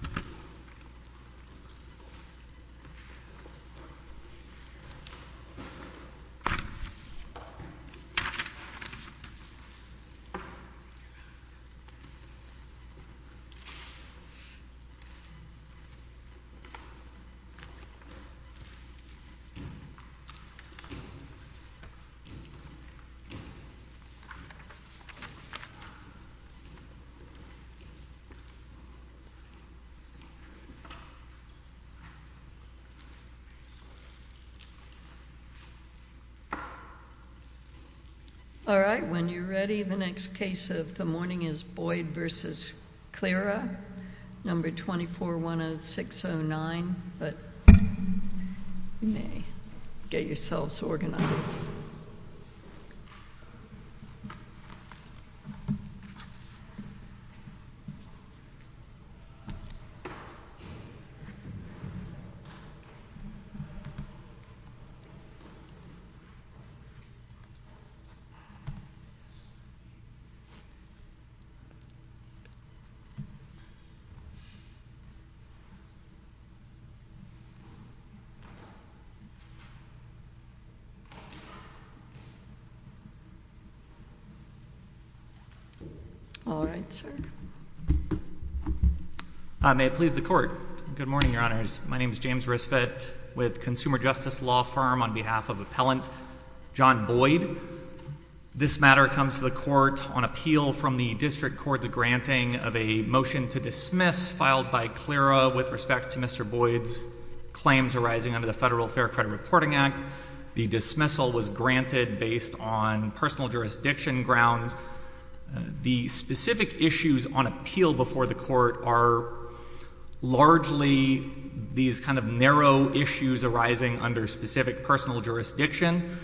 No. 2410609, but you may get yourselves organized. Thank you. All right, sir. May it please the Court. Good morning, Your Honors. My name is James Risfett with Consumer Justice Law Firm on behalf of Appellant John Boyd. This matter comes to the Court on appeal from the District Court's granting of a motion to dismiss filed by Cleara with respect to Mr. Boyd's claims arising under the Federal Fair Credit Reporting Act. The dismissal was granted based on personal jurisdiction grounds. The specific issues on appeal before the Court are largely these kind of narrow issues arising under specific personal jurisdiction.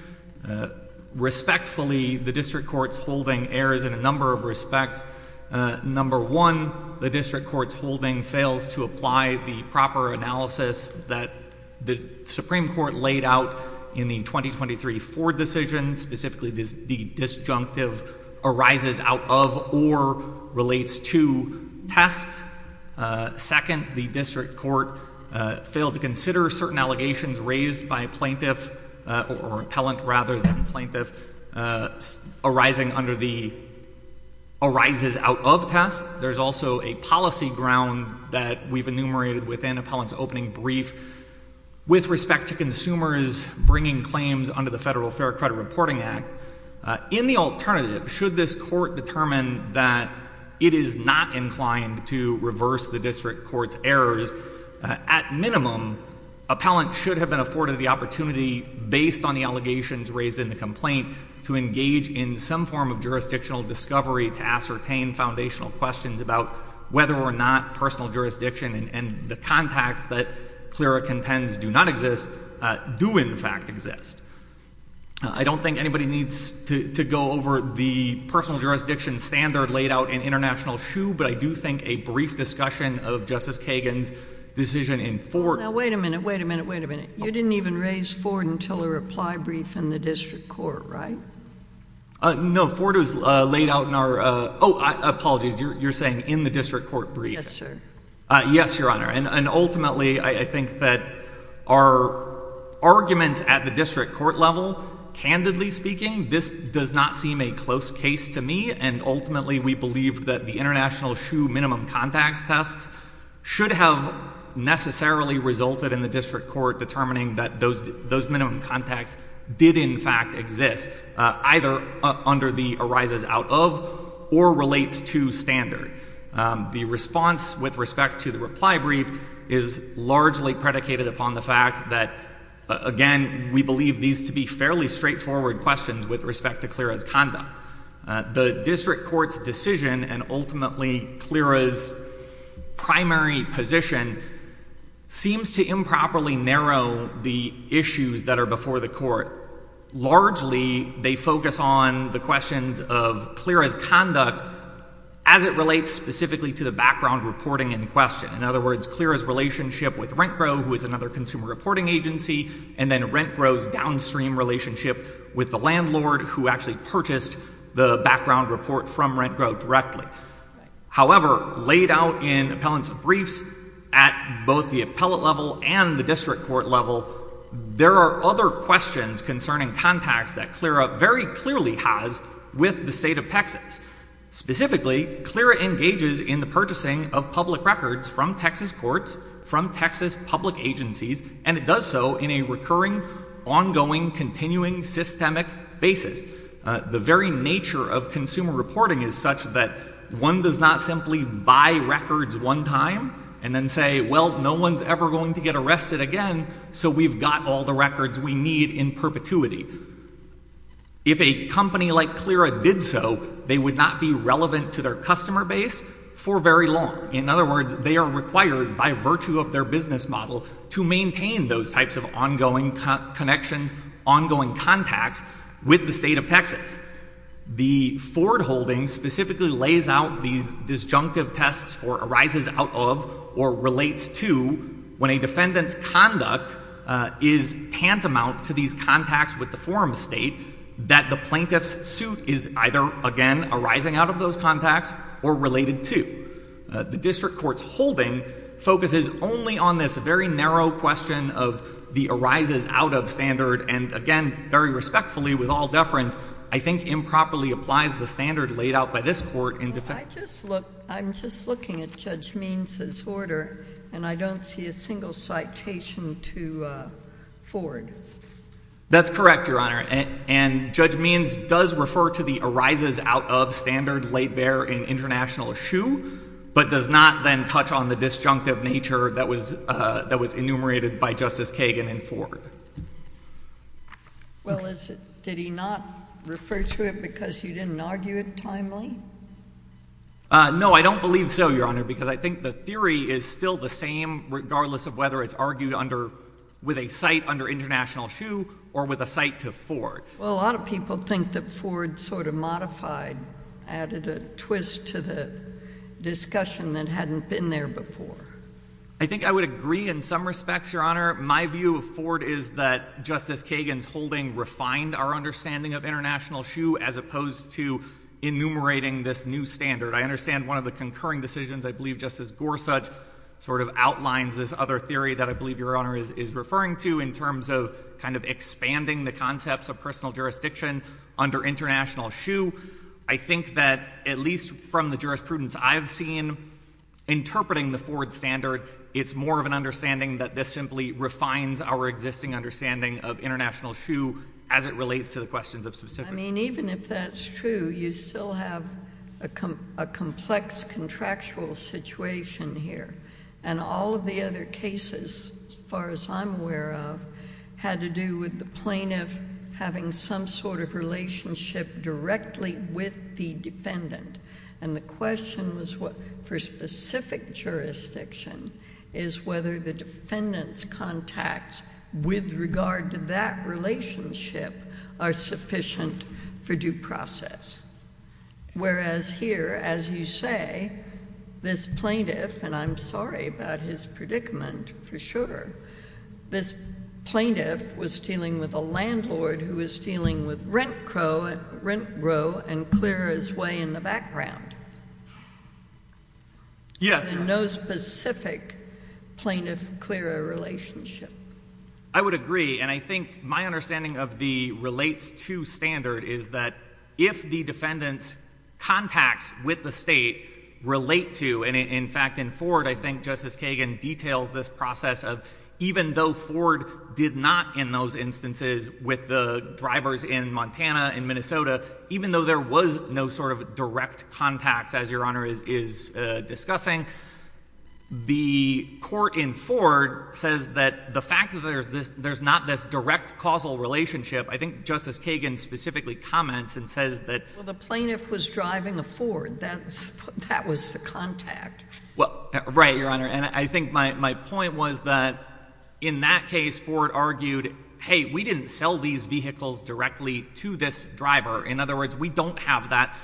Respectfully, the District Court's holding errs in a number of respects. Number one, the District Court's holding fails to apply the proper analysis that the Supreme Court laid out in the 2023 Ford decision. Specifically, the disjunctive arises out of or relates to tests. Second, the District Court failed to consider certain allegations raised by plaintiff or appellant rather than plaintiff arising under the arises out of test. There's also a policy ground that we've enumerated within Appellant's opening brief with respect to consumers bringing claims under the Federal Fair Credit Reporting Act. In the alternative, should this Court determine that it is not inclined to reverse the District Court's errors, at minimum, appellant should have been afforded the opportunity based on the allegations raised in the complaint to engage in some form of jurisdictional discovery to ascertain foundational questions about whether or not personal jurisdiction and the contacts that Cleara contends do not exist, do in fact exist. I don't think anybody needs to go over the personal jurisdiction standard laid out in International SHU, but I do think a brief discussion of Justice Kagan's decision in Ford— Now, wait a minute, wait a minute, wait a minute. You didn't even raise Ford until the reply brief in the District Court, right? No, Ford was laid out in our—oh, apologies. You're saying in the District Court brief? Yes, sir. Yes, Your Honor, and ultimately I think that our arguments at the District Court level, candidly speaking, this does not seem a close case to me, and ultimately we believe that the International SHU minimum contacts tests should have necessarily resulted in the District Court determining that those minimum contacts did in fact exist, either under the arises out of or relates to standard. The response with respect to the reply brief is largely predicated upon the fact that, again, we believe these to be fairly straightforward questions with respect to Cleara's conduct. The District Court's decision and ultimately Cleara's primary position seems to improperly narrow the issues that are before the Court. Largely, they focus on the questions of Cleara's conduct as it relates specifically to the background reporting in question. In other words, Cleara's relationship with RentGro, who is another consumer reporting agency, and then RentGro's downstream relationship with the landlord who actually purchased the background report from RentGro directly. However, laid out in appellant's briefs at both the appellate level and the District Court level, there are other questions concerning contacts that Cleara very clearly has with the State of Texas. Specifically, Cleara engages in the purchasing of public records from Texas courts, from Texas public agencies, and it does so in a recurring, ongoing, continuing, systemic basis. The very nature of consumer reporting is such that one does not simply buy records one time and then say, well, no one's ever going to get arrested again, so we've got all the records we need in perpetuity. If a company like Cleara did so, they would not be relevant to their customer base for very long. In other words, they are required by virtue of their business model to maintain those types of ongoing connections, ongoing contacts with the State of Texas. The Ford holding specifically lays out these disjunctive tests for arises out of or relates to when a defendant's conduct is tantamount to these contacts with the forum state that the plaintiff's suit is either, again, arising out of those contacts or related to. The District Court's holding focuses only on this very narrow question of the arises out of standard, and again, very respectfully, with all deference, I think improperly applies the standard laid out by this court in defense. I'm just looking at Judge Means's order, and I don't see a single citation to Ford. That's correct, Your Honor, and Judge Means does refer to the arises out of standard laid bare in international issue, but does not then touch on the disjunctive nature that was enumerated by Justice Kagan in Ford. Well, did he not refer to it because you didn't argue it timely? No, I don't believe so, Your Honor, because I think the theory is still the same, regardless of whether it's argued with a cite under international issue or with a cite to Ford. Well, a lot of people think that Ford sort of modified, added a twist to the discussion that hadn't been there before. I think I would agree in some respects, Your Honor. My view of Ford is that Justice Kagan's holding refined our understanding of international issue as opposed to enumerating this new standard. I understand one of the concurring decisions, I believe Justice Gorsuch, sort of outlines this other theory that I believe Your Honor is referring to in terms of kind of expanding the concepts of personal jurisdiction under international issue. I think that at least from the jurisprudence I've seen interpreting the Ford standard, it's more of an understanding that this simply refines our existing understanding of international issue as it relates to the questions of specifics. I mean, even if that's true, you still have a complex contractual situation here. And all of the other cases, as far as I'm aware of, had to do with the plaintiff having some sort of relationship directly with the defendant. And the question was for specific jurisdiction is whether the defendant's contacts with regard to that relationship are sufficient for due process. Whereas here, as you say, this plaintiff, and I'm sorry about his predicament for sure, this plaintiff was dealing with a landlord who was dealing with rent grow and clear his way in the background. Yes, Your Honor. And no specific plaintiff-clearer relationship. I would agree. And I think my understanding of the relates to standard is that if the defendant's contacts with the state relate to, and in fact, in Ford, I think Justice Kagan details this process of even though Ford did not in those instances with the drivers in Montana, in Minnesota, even though there was no sort of direct contacts as Your Honor is discussing, the court in Ford says that the fact that there's not this direct causal relationship, I think Justice Kagan specifically comments and says that Well, the plaintiff was driving a Ford. That was the contact. Well, right, Your Honor. And I think my point was that in that case, Ford argued, hey, we didn't sell these vehicles directly to this driver. In other words, we don't have that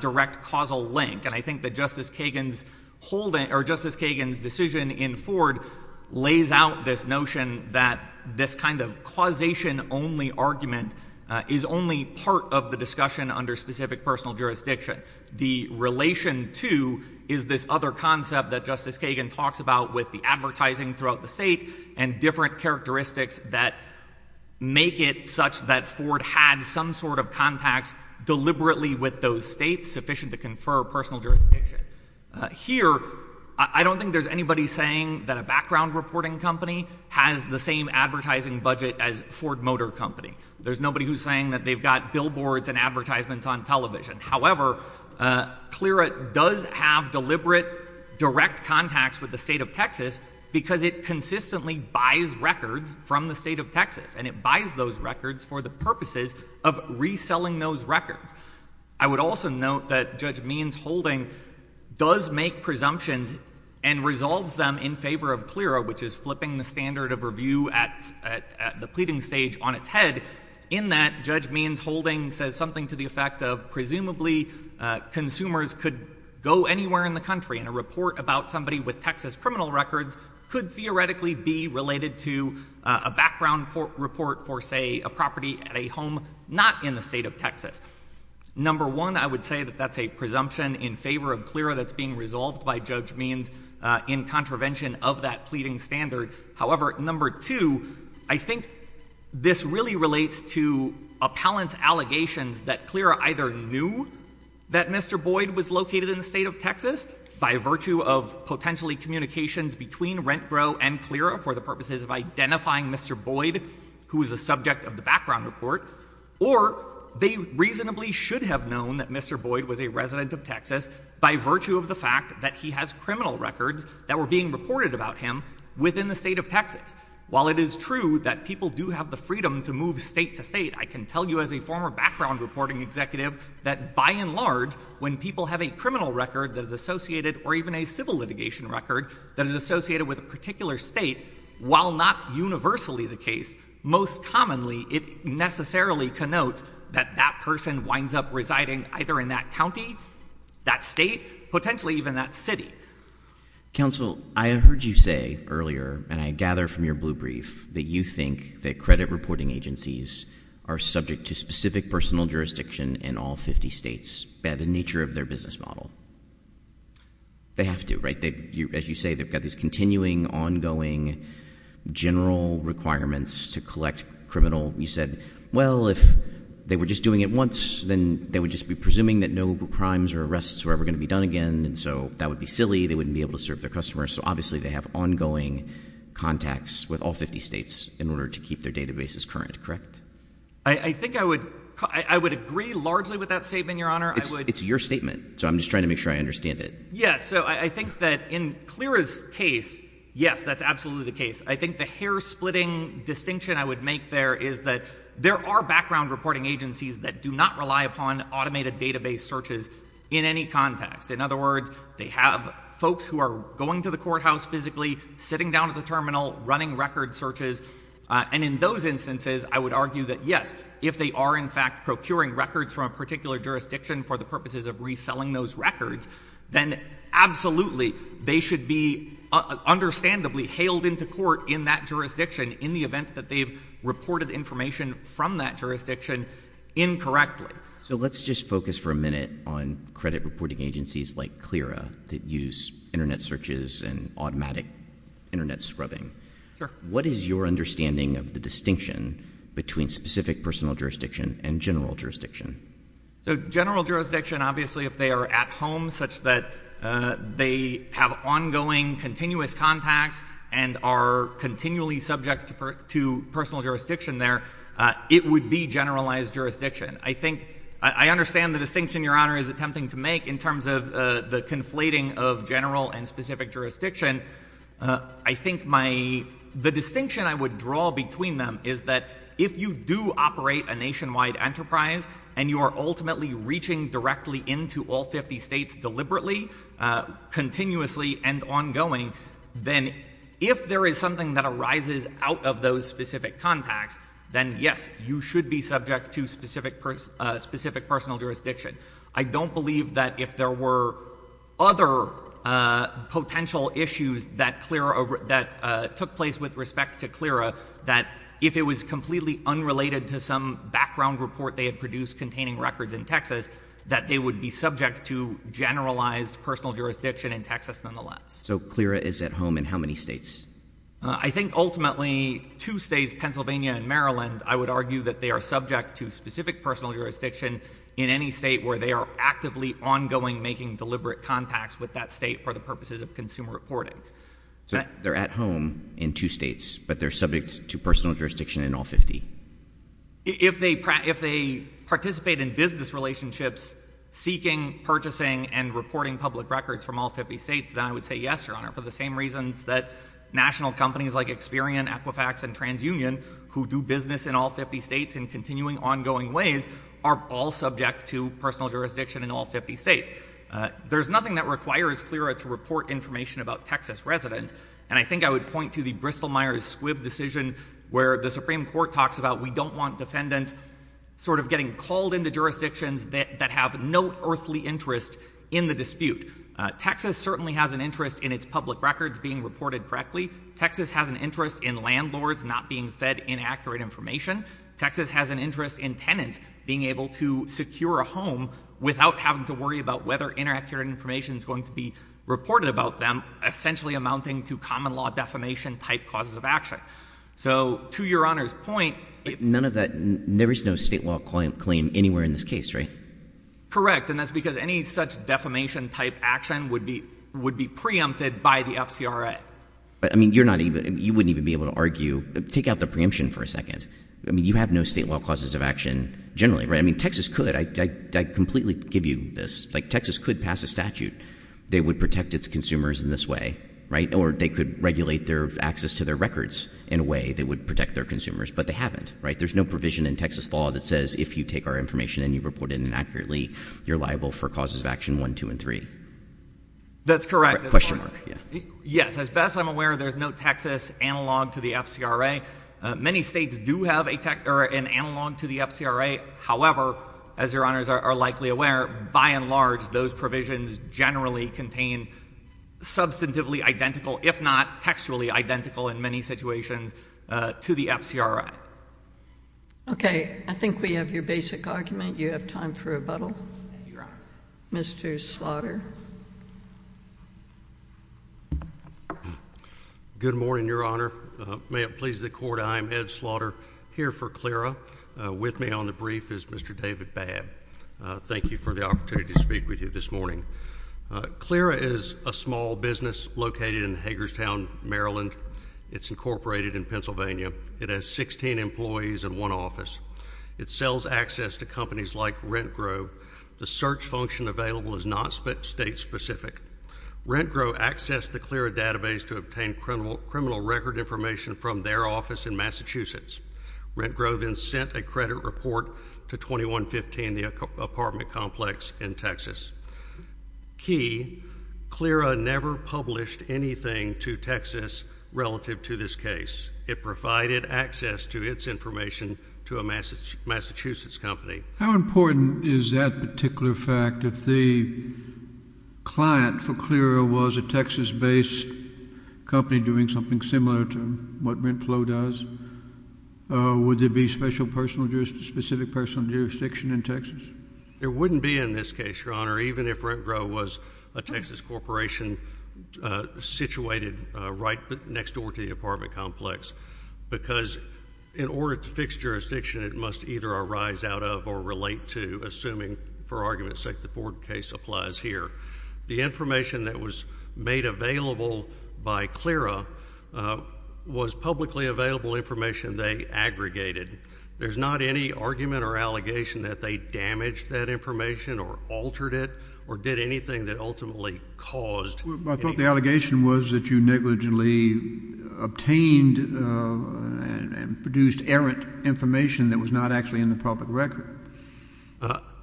direct causal link. And I think that Justice Kagan's decision in Ford lays out this notion that this kind of causation-only argument is only part of the discussion under specific personal jurisdiction. The relation to is this other concept that Justice Kagan talks about with the advertising throughout the state Here, I don't think there's anybody saying that a background reporting company has the same advertising budget as Ford Motor Company. There's nobody who's saying that they've got billboards and advertisements on television. However, CLRA does have deliberate direct contacts with the state of Texas because it consistently buys records from the state of Texas, and it buys those records for the purposes of reselling those records. I would also note that Judge Means-Holding does make presumptions and resolves them in favor of CLRA, which is flipping the standard of review at the pleading stage on its head, in that Judge Means-Holding says something to the effect of presumably consumers could go anywhere in the country, and a report about somebody with Texas criminal records could theoretically be related to a background report for, say, a property at a home not in the state of Texas. Number one, I would say that that's a presumption in favor of CLRA that's being resolved by Judge Means in contravention of that pleading standard. However, number two, I think this really relates to appellant's allegations that CLRA either knew that Mr. Boyd was located in the state of Texas by virtue of potentially communications between RentGro and CLRA for the purposes of identifying Mr. Boyd, who is the subject of the background report, or they reasonably should have known that Mr. Boyd was a resident of Texas by virtue of the fact that he has criminal records that were being reported about him within the state of Texas. While it is true that people do have the freedom to move state to state, I can tell you as a former background reporting executive that, by and large, when people have a criminal record that is associated or even a civil litigation record that is associated with a particular state, while not universally the case, most commonly it necessarily connotes that that person winds up residing either in that county, that state, potentially even that city. Counsel, I heard you say earlier, and I gather from your blue brief, that you think that credit reporting agencies are subject to specific personal jurisdiction in all 50 states by the nature of their business model. They have to, right? As you say, they've got these continuing, ongoing, general requirements to collect criminal. You said, well, if they were just doing it once, then they would just be presuming that no crimes or arrests were ever going to be done again, and so that would be silly. They wouldn't be able to serve their customers. So obviously they have ongoing contacts with all 50 states in order to keep their databases current, correct? I think I would agree largely with that statement, Your Honor. It's your statement. So I'm just trying to make sure I understand it. Yes. So I think that in CLRA's case, yes, that's absolutely the case. I think the hair-splitting distinction I would make there is that there are background reporting agencies that do not rely upon automated database searches in any context. In other words, they have folks who are going to the courthouse physically, sitting down at the terminal, running record searches, and in those instances, I would argue that, yes, if they are in fact procuring records from a particular jurisdiction for the purposes of reselling those records, then absolutely they should be understandably hailed into court in that jurisdiction in the event that they've reported information from that jurisdiction incorrectly. So let's just focus for a minute on credit reporting agencies like CLRA that use Internet searches and automatic Internet scrubbing. Sure. What is your understanding of the distinction between specific personal jurisdiction and general jurisdiction? So general jurisdiction, obviously, if they are at home such that they have ongoing continuous contacts and are continually subject to personal jurisdiction there, it would be generalized jurisdiction. I think I understand the distinction Your Honor is attempting to make in terms of the conflating of general and specific jurisdiction. I think my — the distinction I would draw between them is that if you do operate a nationwide enterprise and you are ultimately reaching directly into all 50 states deliberately, continuously, and ongoing, then if there is something that arises out of those specific contacts, then yes, you should be subject to specific personal jurisdiction. I don't believe that if there were other potential issues that CLRA — that took place with respect to CLRA, that if it was completely unrelated to some background report they had produced containing records in Texas, that they would be subject to generalized personal jurisdiction in Texas nonetheless. So CLRA is at home in how many states? I think ultimately two states, Pennsylvania and Maryland, and I would argue that they are subject to specific personal jurisdiction in any state where they are actively, ongoing, making deliberate contacts with that state for the purposes of consumer reporting. So they're at home in two states, but they're subject to personal jurisdiction in all 50? If they participate in business relationships seeking, purchasing, and reporting public records from all 50 states, then I would say yes, Your Honor, for the same reasons that national companies like Experian, Equifax, and TransUnion, who do business in all 50 states in continuing, ongoing ways, are all subject to personal jurisdiction in all 50 states. There's nothing that requires CLRA to report information about Texas residents, and I think I would point to the Bristol-Myers-Squibb decision where the Supreme Court talks about we don't want defendants sort of getting called into jurisdictions that have no earthly interest in the dispute. Texas certainly has an interest in its public records being reported correctly. Texas has an interest in landlords not being fed inaccurate information. Texas has an interest in tenants being able to secure a home without having to worry about whether inaccurate information is going to be reported about them, essentially amounting to common-law defamation-type causes of action. So to Your Honor's point— None of that—there is no state law claim anywhere in this case, right? Correct, and that's because any such defamation-type action would be preempted by the FCRA. I mean, you're not even—you wouldn't even be able to argue—take out the preemption for a second. I mean, you have no state law causes of action generally, right? I mean, Texas could. I completely give you this. Like, Texas could pass a statute that would protect its consumers in this way, right, or they could regulate their access to their records in a way that would protect their consumers, but they haven't, right? There's no provision in Texas law that says if you take our information and you report it inaccurately, you're liable for causes of action 1, 2, and 3. That's correct. Question mark, yeah. Yes, as best I'm aware, there's no Texas analog to the FCRA. Many states do have an analog to the FCRA. However, as Your Honors are likely aware, by and large, those provisions generally contain substantively identical, if not textually identical in many situations, to the FCRA. Okay. I think we have your basic argument. You have time for rebuttal. Thank you, Your Honor. Mr. Slaughter. Good morning, Your Honor. May it please the Court, I am Ed Slaughter here for CLRA. With me on the brief is Mr. David Babb. Thank you for the opportunity to speak with you this morning. CLRA is a small business located in Hagerstown, Maryland. It's incorporated in Pennsylvania. It has 16 employees and one office. It sells access to companies like RentGrove. The search function available is not state-specific. RentGrove accessed the CLRA database to obtain criminal record information from their office in Massachusetts. RentGrove then sent a credit report to 2115, the apartment complex in Texas. Key, CLRA never published anything to Texas relative to this case. It provided access to its information to a Massachusetts company. How important is that particular fact if the client for CLRA was a Texas-based company doing something similar to what RentFlow does? Would there be specific personal jurisdiction in Texas? There wouldn't be in this case, Your Honor, even if RentGrove was a Texas corporation situated right next door to the apartment complex because in order to fix jurisdiction, it must either arise out of or relate to, assuming, for argument's sake, the Ford case applies here. The information that was made available by CLRA was publicly available information they aggregated. There's not any argument or allegation that they damaged that information or altered it or did anything that ultimately caused any— I thought the allegation was that you negligently obtained and produced errant information that was not actually in the public record.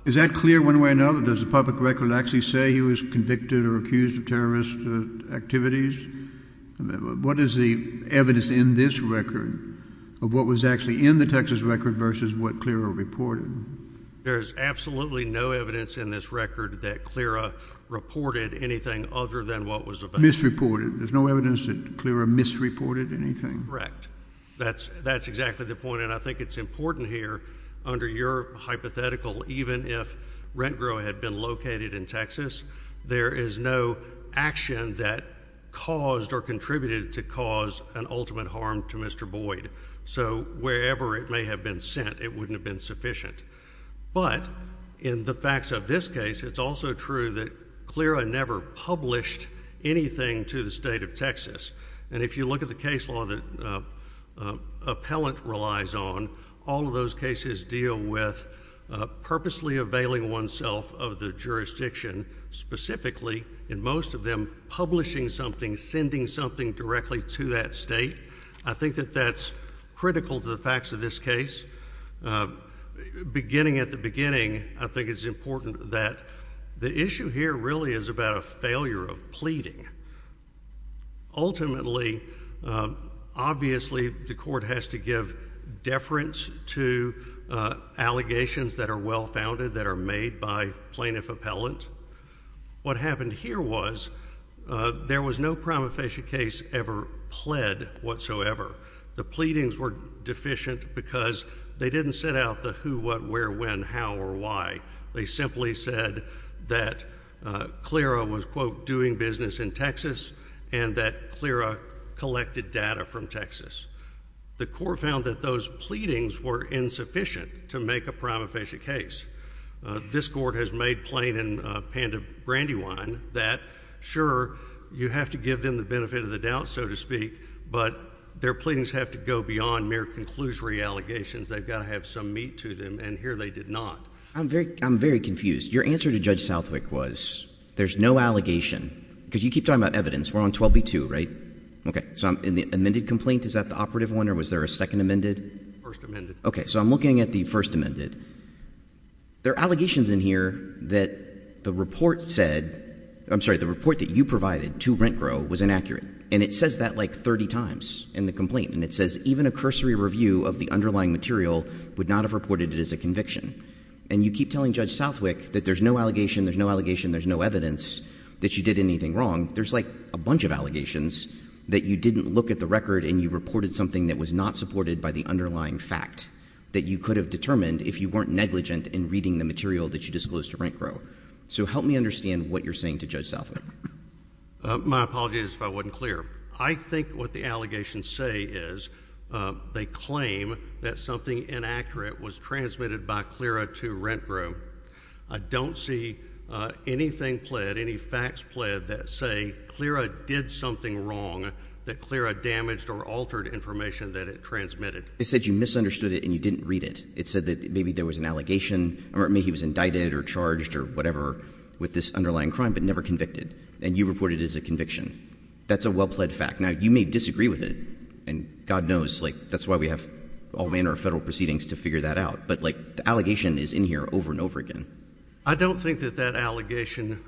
Is that clear one way or another? Does the public record actually say he was convicted or accused of terrorist activities? What is the evidence in this record of what was actually in the Texas record versus what CLRA reported? There's absolutely no evidence in this record that CLRA reported anything other than what was available. Misreported. There's no evidence that CLRA misreported anything? Correct. That's exactly the point. And I think it's important here, under your hypothetical, even if RentGrove had been located in Texas, there is no action that caused or contributed to cause an ultimate harm to Mr. Boyd. So wherever it may have been sent, it wouldn't have been sufficient. But in the facts of this case, it's also true that CLRA never published anything to the state of Texas. And if you look at the case law that appellant relies on, all of those cases deal with purposely availing oneself of the jurisdiction, specifically, in most of them, publishing something, sending something directly to that state. I think that that's critical to the facts of this case. Beginning at the beginning, I think it's important that the issue here really is about a failure of pleading. Ultimately, obviously, the court has to give deference to allegations that are well-founded, that are made by plaintiff appellant. What happened here was there was no prima facie case ever pled whatsoever. The pleadings were deficient because they didn't set out the who, what, where, when, how, or why. They simply said that CLRA was, quote, doing business in Texas and that CLRA collected data from Texas. The court found that those pleadings were insufficient to make a prima facie case. This court has made plain in Panda Brandywine that, sure, you have to give them the benefit of the doubt, so to speak, but their pleadings have to go beyond mere conclusory allegations. They've got to have some meat to them, and here they did not. I'm very confused. Your answer to Judge Southwick was there's no allegation, because you keep talking about evidence. We're on 12b-2, right? Okay. So in the amended complaint, is that the operative one, or was there a second amended? First amended. Okay. So I'm looking at the first amended. There are allegations in here that the report said — I'm sorry, the report that you provided to RentGrow was inaccurate, and it says that like 30 times in the complaint, and it says even a cursory review of the underlying material would not have reported it as a conviction. And you keep telling Judge Southwick that there's no allegation, there's no allegation, there's no evidence that you did anything wrong. There's like a bunch of allegations that you didn't look at the record and you reported something that was not supported by the underlying fact that you could have determined if you weren't negligent in reading the material that you disclosed to RentGrow. So help me understand what you're saying to Judge Southwick. My apologies if I wasn't clear. I think what the allegations say is they claim that something inaccurate was transmitted by CLRA to RentGrow. I don't see anything pled, any facts pled that say CLRA did something wrong that CLRA damaged or altered information that it transmitted. It said you misunderstood it and you didn't read it. It said that maybe there was an allegation, or maybe he was indicted or charged or whatever with this underlying crime but never convicted. And you reported it as a conviction. That's a well-pled fact. Now, you may disagree with it, and God knows, like, that's why we have all manner of federal proceedings to figure that out. But, like, the allegation is in here over and over again. I don't think that that allegation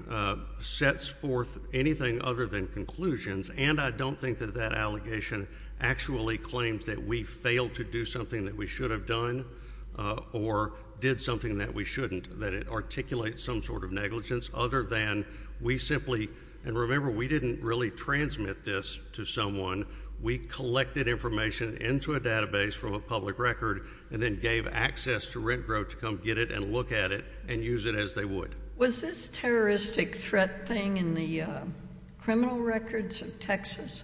sets forth anything other than conclusions, and I don't think that that allegation actually claims that we failed to do something that we should have done or did something that we shouldn't, that it articulates some sort of negligence other than we simply – we didn't really transmit this to someone. We collected information into a database from a public record and then gave access to RentGrow to come get it and look at it and use it as they would. Was this terroristic threat thing in the criminal records of Texas?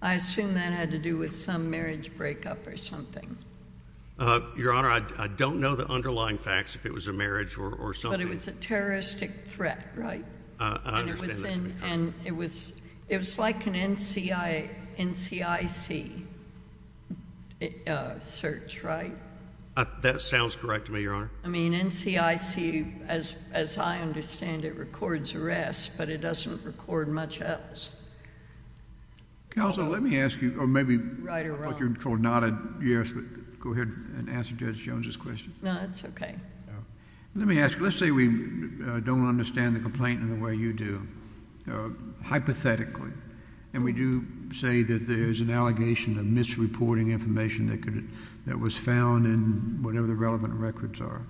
I assume that had to do with some marriage breakup or something. Your Honor, I don't know the underlying facts if it was a marriage or something. But it was a terroristic threat, right? I understand that. And it was like an NCIC search, right? That sounds correct to me, Your Honor. I mean, NCIC, as I understand it, records arrests, but it doesn't record much else. Counsel, let me ask you – or maybe – Right or wrong. I thought you were going to nod at yes, but go ahead and answer Judge Jones's question. No, that's okay. Let me ask you. Let's say we don't understand the complaint in the way you do, hypothetically, and we do say that there's an allegation of misreporting information that was found in whatever the relevant records are.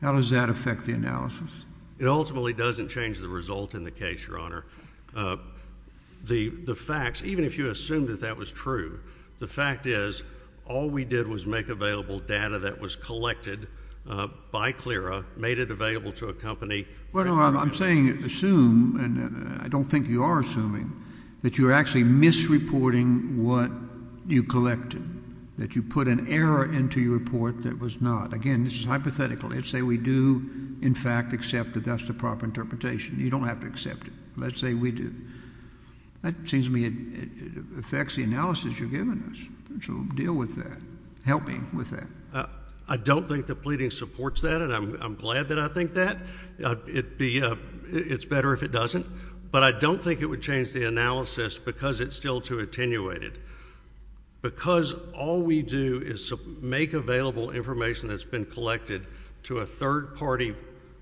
How does that affect the analysis? It ultimately doesn't change the result in the case, Your Honor. The facts, even if you assume that that was true, the fact is all we did was make available data that was collected by CLRA, made it available to a company. Well, no, I'm saying assume, and I don't think you are assuming, that you're actually misreporting what you collected, that you put an error into your report that was not. Again, this is hypothetical. Let's say we do, in fact, accept that that's the proper interpretation. You don't have to accept it. Let's say we do. That seems to me it affects the analysis you're giving us, so deal with that. Help me with that. I don't think the pleading supports that, and I'm glad that I think that. It's better if it doesn't, but I don't think it would change the analysis because it's still too attenuated. Because all we do is make available information that's been collected to a third party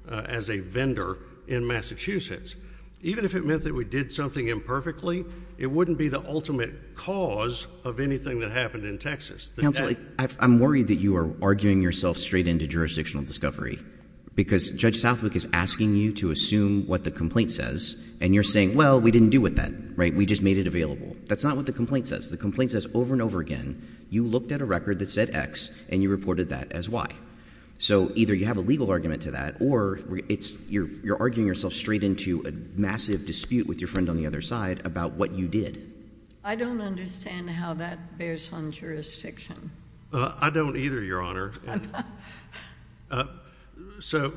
as a vendor in Massachusetts, even if it meant that we did something imperfectly, it wouldn't be the ultimate cause of anything that happened in Texas. Counsel, I'm worried that you are arguing yourself straight into jurisdictional discovery because Judge Southwick is asking you to assume what the complaint says, and you're saying, well, we didn't do it then. We just made it available. That's not what the complaint says. The complaint says over and over again you looked at a record that said X and you reported that as Y. So either you have a legal argument to that or you're arguing yourself straight into a massive dispute with your friend on the other side about what you did. I don't understand how that bears on jurisdiction. I don't either, Your Honor. So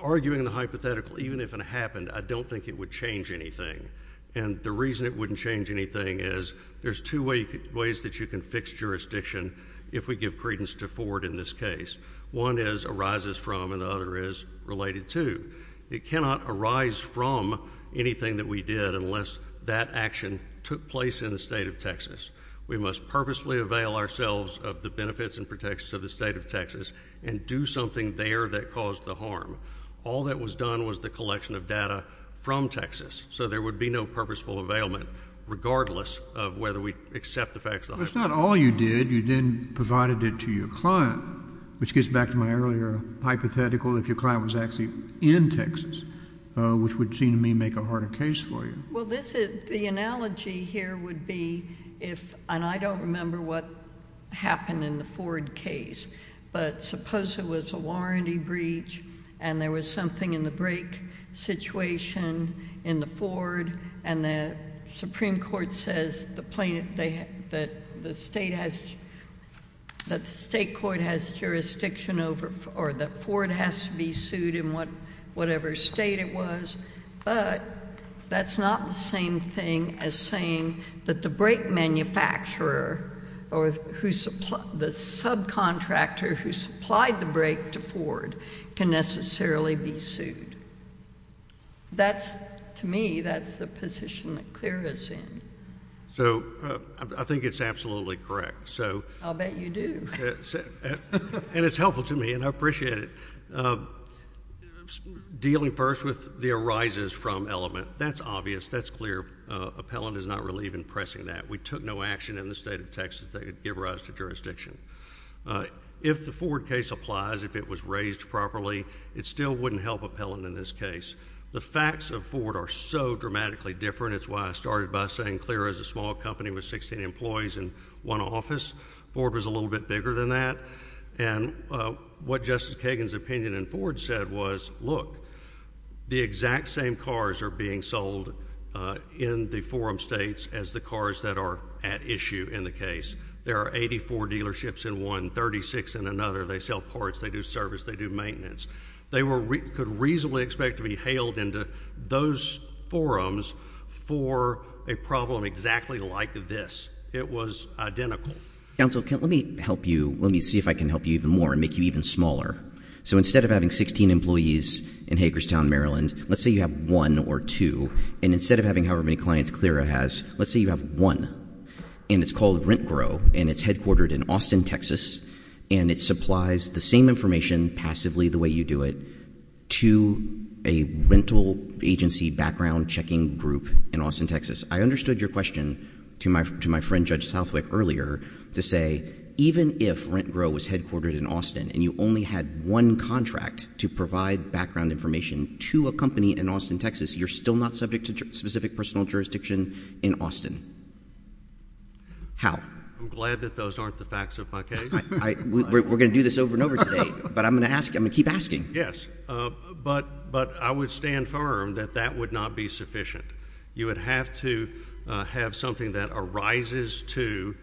arguing the hypothetical, even if it happened, I don't think it would change anything. And the reason it wouldn't change anything is there's two ways that you can fix jurisdiction if we give credence to Ford in this case. One is arises from and the other is related to. It cannot arise from anything that we did unless that action took place in the state of Texas. We must purposefully avail ourselves of the benefits and protections of the state of Texas and do something there that caused the harm. All that was done was the collection of data from Texas, so there would be no purposeful availment regardless of whether we accept the facts. Well, it's not all you did. You then provided it to your client, which gets back to my earlier hypothetical, if your client was actually in Texas, which would seem to me make a harder case for you. Well, the analogy here would be if, and I don't remember what happened in the Ford case, but suppose it was a warranty breach and there was something in the brake situation in the Ford and the Supreme Court says that the state court has jurisdiction over or that Ford has to be sued in whatever state it was, but that's not the same thing as saying that the brake manufacturer or the subcontractor who supplied the brake to Ford can necessarily be sued. To me, that's the position that clears us in. So I think it's absolutely correct. I'll bet you do. And it's helpful to me, and I appreciate it. Dealing first with the arises from element, that's obvious. That's clear. Appellant is not really even pressing that. We took no action in the state of Texas to give rise to jurisdiction. If the Ford case applies, if it was raised properly, it still wouldn't help appellant in this case. The facts of Ford are so dramatically different. It's why I started by saying Clear is a small company with 16 employees and one office. Ford was a little bit bigger than that. And what Justice Kagan's opinion in Ford said was, look, the exact same cars are being sold in the forum states as the cars that are at issue in the case. There are 84 dealerships in one, 36 in another. They sell parts. They do service. They do maintenance. They could reasonably expect to be hailed into those forums for a problem exactly like this. It was identical. Counsel, let me help you. Let me see if I can help you even more and make you even smaller. So instead of having 16 employees in Hagerstown, Maryland, let's say you have one or two, and instead of having however many clients Clear has, let's say you have one, and it's called RentGrow, and it's headquartered in Austin, Texas, and it supplies the same information passively the way you do it to a rental agency background checking group in Austin, Texas. I understood your question to my friend Judge Southwick earlier to say even if RentGrow was headquartered in Austin and you only had one contract to provide background information to a company in Austin, Texas, you're still not subject to specific personal jurisdiction in Austin. How? I'm glad that those aren't the facts of my case. We're going to do this over and over today, but I'm going to keep asking. Yes, but I would stand firm that that would not be sufficient. You would have to have something that arises in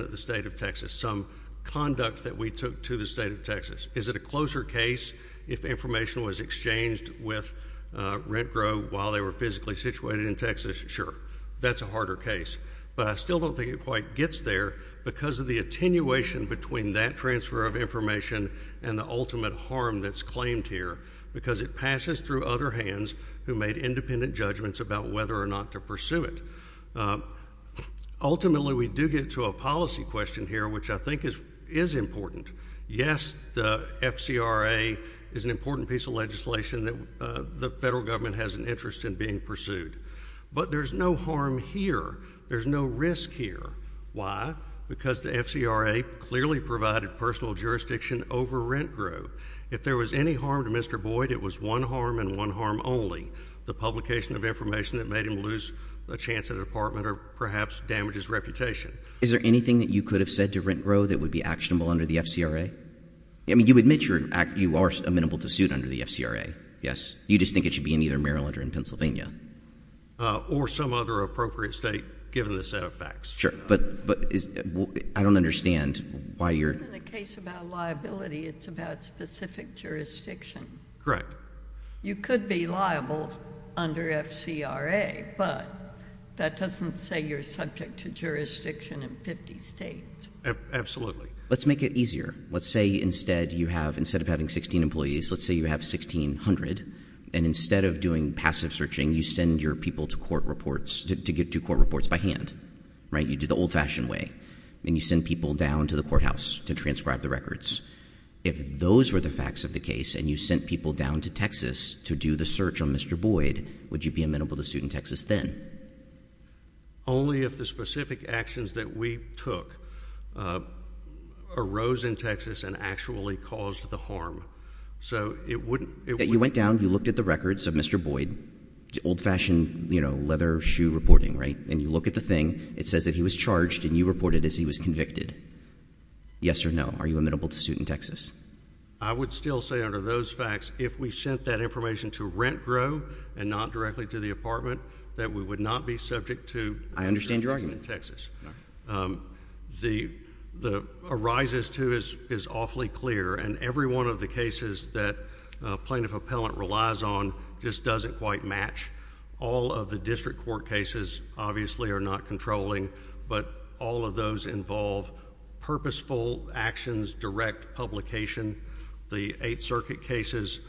the state of Texas, some conduct that we took to the state of Texas. Is it a closer case if information was exchanged with RentGrow while they were physically situated in Texas? Sure. That's a harder case. But I still don't think it quite gets there because of the attenuation between that transfer of information and the ultimate harm that's claimed here because it passes through other hands who made independent judgments about whether or not to pursue it. Ultimately, we do get to a policy question here, which I think is important. Yes, the FCRA is an important piece of legislation that the federal government has an interest in being pursued, but there's no harm here. There's no risk here. Why? Because the FCRA clearly provided personal jurisdiction over RentGrow. If there was any harm to Mr. Boyd, it was one harm and one harm only, the publication of information that made him lose a chance at an apartment or perhaps damage his reputation. Is there anything that you could have said to RentGrow that would be actionable under the FCRA? I mean, you admit you are amenable to suit under the FCRA, yes? You just think it should be in either Maryland or in Pennsylvania? Or some other appropriate state, given the set of facts. But I don't understand why you're— It's not a case about liability. It's about specific jurisdiction. Correct. You could be liable under FCRA, but that doesn't say you're subject to jurisdiction in 50 states. Absolutely. Let's make it easier. Let's say instead you have—instead of having 16 employees, let's say you have 1,600, and instead of doing passive searching, you send your people to court reports—to do court reports by hand, right? You do the old-fashioned way, and you send people down to the courthouse to transcribe the records. If those were the facts of the case and you sent people down to Texas to do the search on Mr. Boyd, would you be amenable to suit in Texas then? Only if the specific actions that we took arose in Texas and actually caused the harm. So it wouldn't— You went down. You looked at the records of Mr. Boyd, old-fashioned, you know, leather shoe reporting, right? And you look at the thing. It says that he was charged, and you reported as he was convicted. Yes or no? Are you amenable to suit in Texas? I would still say under those facts, if we sent that information to RentGro and not directly to the apartment, that we would not be subject to— I understand your argument. —in Texas. All right. The arises to is awfully clear, and every one of the cases that plaintiff-appellant relies on just doesn't quite match. All of the district court cases obviously are not controlling, but all of those involve purposeful actions, direct publication. The Eighth Circuit cases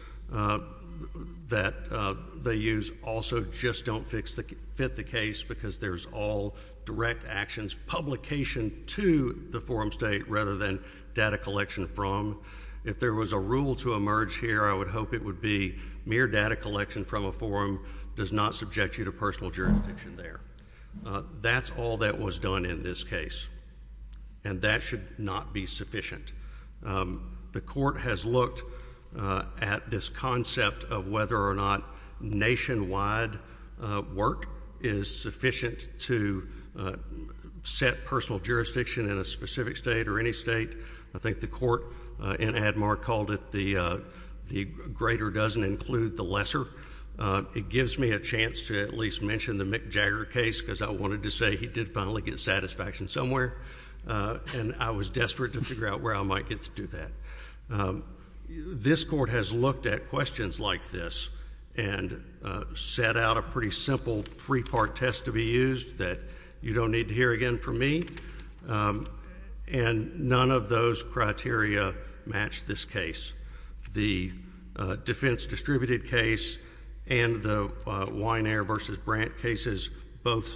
that they use also just don't fit the case because there's all direct actions, publication to the forum state rather than data collection from. If there was a rule to emerge here, I would hope it would be mere data collection from a forum does not subject you to personal jurisdiction there. That's all that was done in this case, and that should not be sufficient. The court has looked at this concept of whether or not nationwide work is sufficient to set personal jurisdiction in a specific state or any state. I think the court in Atmar called it the greater doesn't include the lesser. It gives me a chance to at least mention the Mick Jagger case because I wanted to say he did finally get satisfaction somewhere, and I was desperate to figure out where I might get to do that. This court has looked at questions like this and set out a pretty simple three-part test to be used that you don't need to hear again from me, and none of those criteria match this case. The defense distributed case and the Weiner v. Brandt cases both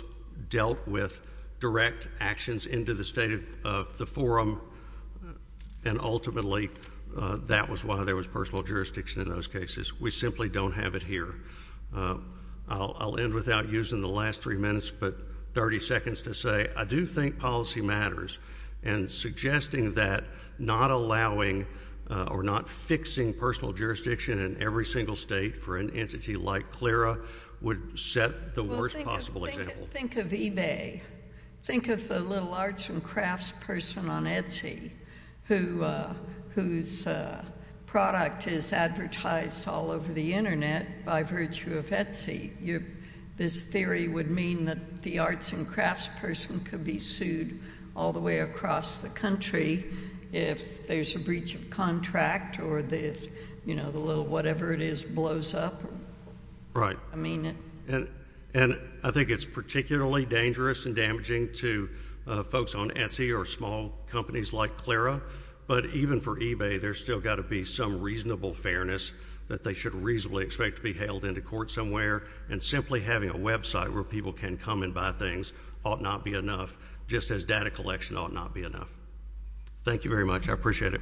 dealt with direct actions into the state of the forum, and ultimately that was why there was personal jurisdiction in those cases. We simply don't have it here. I'll end without using the last three minutes but 30 seconds to say I do think policy matters, and suggesting that not allowing or not fixing personal jurisdiction in every single state for an entity like CLRA would set the worst possible example. Well, think of eBay. Think of the little arts and crafts person on Etsy whose product is advertised all over the Internet by virtue of Etsy. This theory would mean that the arts and crafts person could be sued all the way across the country if there's a breach of contract or the little whatever it is blows up. Right. I mean it. And I think it's particularly dangerous and damaging to folks on Etsy or small companies like CLRA, but even for eBay there's still got to be some reasonable fairness that they should reasonably expect to be hailed into court somewhere, and simply having a website where people can come and buy things ought not be enough just as data collection ought not be enough. Thank you very much. I appreciate it.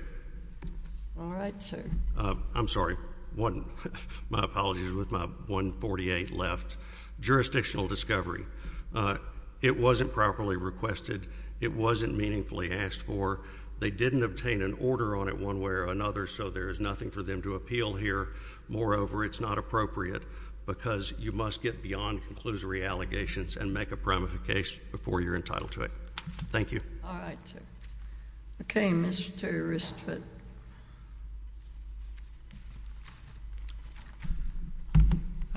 All right, sir. I'm sorry. My apologies with my 1.48 left. Jurisdictional discovery. It wasn't properly requested. It wasn't meaningfully asked for. They didn't obtain an order on it one way or another, so there is nothing for them to appeal here. Moreover, it's not appropriate because you must get beyond conclusory allegations and make a primary case before you're entitled to it. Thank you. All right, sir. Okay, Mr. Ristvedt.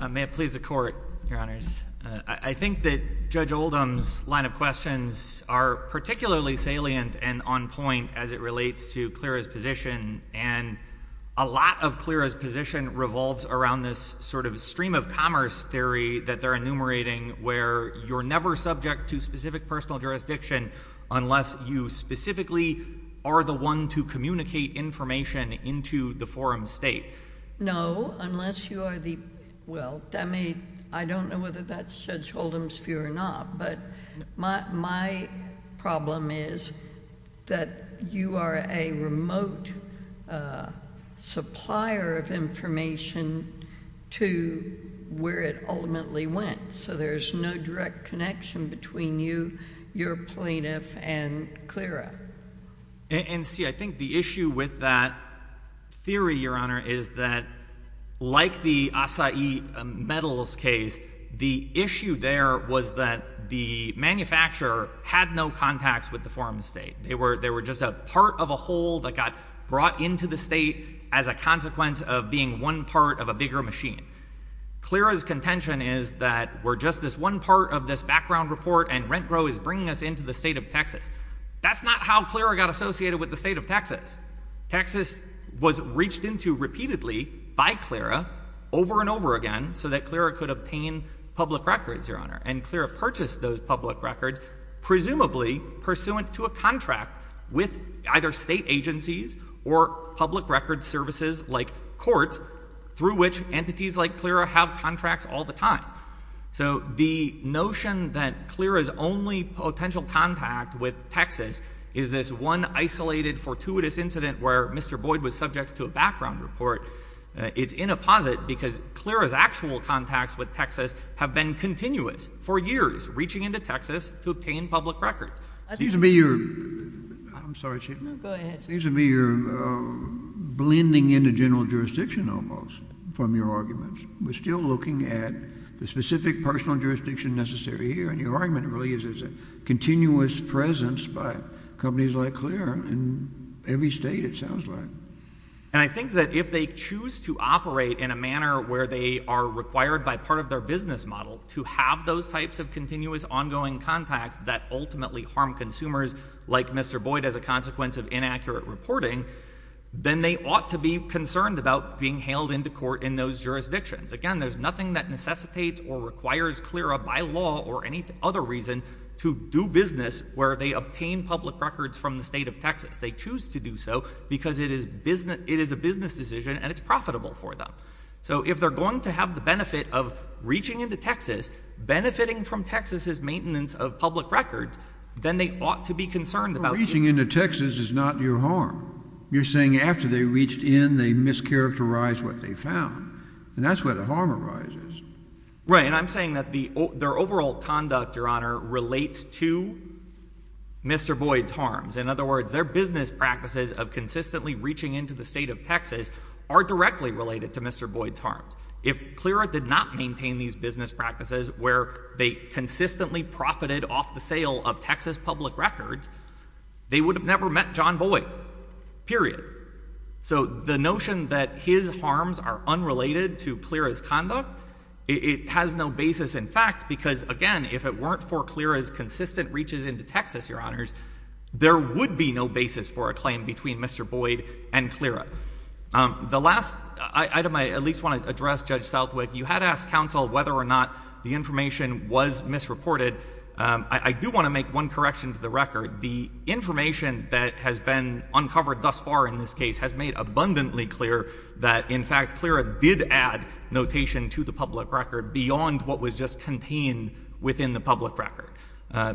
May it please the Court, Your Honors. I think that Judge Oldham's line of questions are particularly salient and on point as it relates to CLRA's position, and a lot of CLRA's position revolves around this sort of stream of commerce theory that they're enumerating where you're never subject to specific personal jurisdiction unless you specifically are the one to communicate information into the forum state. No, unless you are the—well, I mean, I don't know whether that's Judge Oldham's view or not, but my problem is that you are a remote supplier of information to where it ultimately went, so there's no direct connection between you, your plaintiff, and CLRA. And see, I think the issue with that theory, Your Honor, is that like the acai metals case, the issue there was that the manufacturer had no contacts with the forum state. They were just a part of a whole that got brought into the state as a consequence of being one part of a bigger machine. CLRA's contention is that we're just this one part of this background report, and RentGro is bringing us into the state of Texas. That's not how CLRA got associated with the state of Texas. Texas was reached into repeatedly by CLRA over and over again so that CLRA could obtain public records, Your Honor, and CLRA purchased those public records presumably pursuant to a contract with either state agencies or public records services like courts through which entities like CLRA have contracts all the time. So the notion that CLRA's only potential contact with Texas is this one isolated, fortuitous incident where Mr. Boyd was subject to a background report is in a posit because CLRA's actual contacts with Texas have been continuous for years, reaching into Texas to obtain public records. It seems to me you're—I'm sorry, Chief. No, go ahead. It seems to me you're blending into general jurisdiction almost from your arguments. We're still looking at the specific personal jurisdiction necessary here, and your argument really is there's a continuous presence by companies like CLRA in every state, it sounds like. And I think that if they choose to operate in a manner where they are required by part of their business model to have those types of continuous ongoing contacts that ultimately harm consumers like Mr. Boyd as a consequence of inaccurate reporting, then they ought to be concerned about being hailed into court in those jurisdictions. Again, there's nothing that necessitates or requires CLRA by law or any other reason to do business where they obtain public records from the state of Texas. They choose to do so because it is a business decision and it's profitable for them. So if they're going to have the benefit of reaching into Texas, benefiting from Texas' maintenance of public records, then they ought to be concerned about— Reaching into Texas is not your harm. You're saying after they reached in, they mischaracterized what they found, and that's where the harm arises. Right, and I'm saying that their overall conduct, Your Honor, relates to Mr. Boyd's harms. In other words, their business practices of consistently reaching into the state of Texas are directly related to Mr. Boyd's harms. If CLRA did not maintain these business practices where they consistently profited off the sale of Texas public records, they would have never met John Boyd, period. So the notion that his harms are unrelated to CLRA's conduct, it has no basis in fact, because again, if it weren't for CLRA's consistent reaches into Texas, Your Honors, there would be no basis for a claim between Mr. Boyd and CLRA. The last item I at least want to address, Judge Southwick, you had asked counsel whether or not the information was misreported. I do want to make one correction to the record. The information that has been uncovered thus far in this case has made abundantly clear that, in fact, CLRA did add notation to the public record beyond what was just contained within the public record.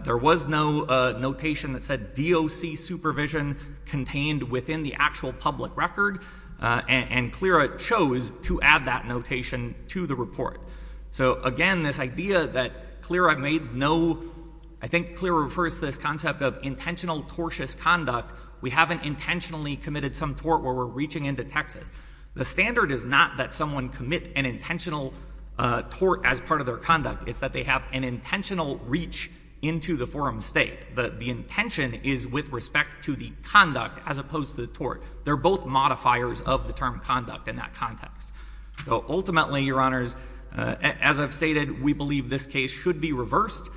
There was no notation that said DOC supervision contained within the actual public record, and CLRA chose to add that notation to the report. So again, this idea that CLRA made no—I think CLRA refers to this concept of intentional tortious conduct. We haven't intentionally committed some tort where we're reaching into Texas. The standard is not that someone commit an intentional tort as part of their conduct. It's that they have an intentional reach into the forum state. The intention is with respect to the conduct as opposed to the tort. They're both modifiers of the term conduct in that context. So ultimately, Your Honors, as I've stated, we believe this case should be reversed.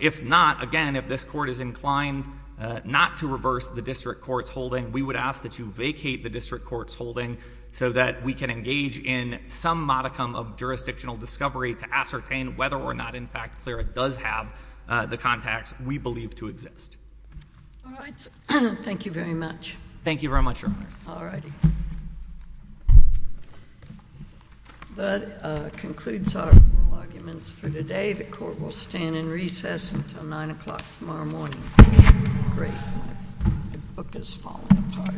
If not, again, if this Court is inclined not to reverse the district court's holding, we would ask that you vacate the district court's holding so that we can engage in some modicum of jurisdictional discovery to ascertain whether or not, in fact, CLRA does have the contacts we believe to exist. All right. Thank you very much. Thank you very much, Your Honors. All righty. That concludes our oral arguments for today. The Court will stand in recess until 9 o'clock tomorrow morning. Great. My book has fallen apart.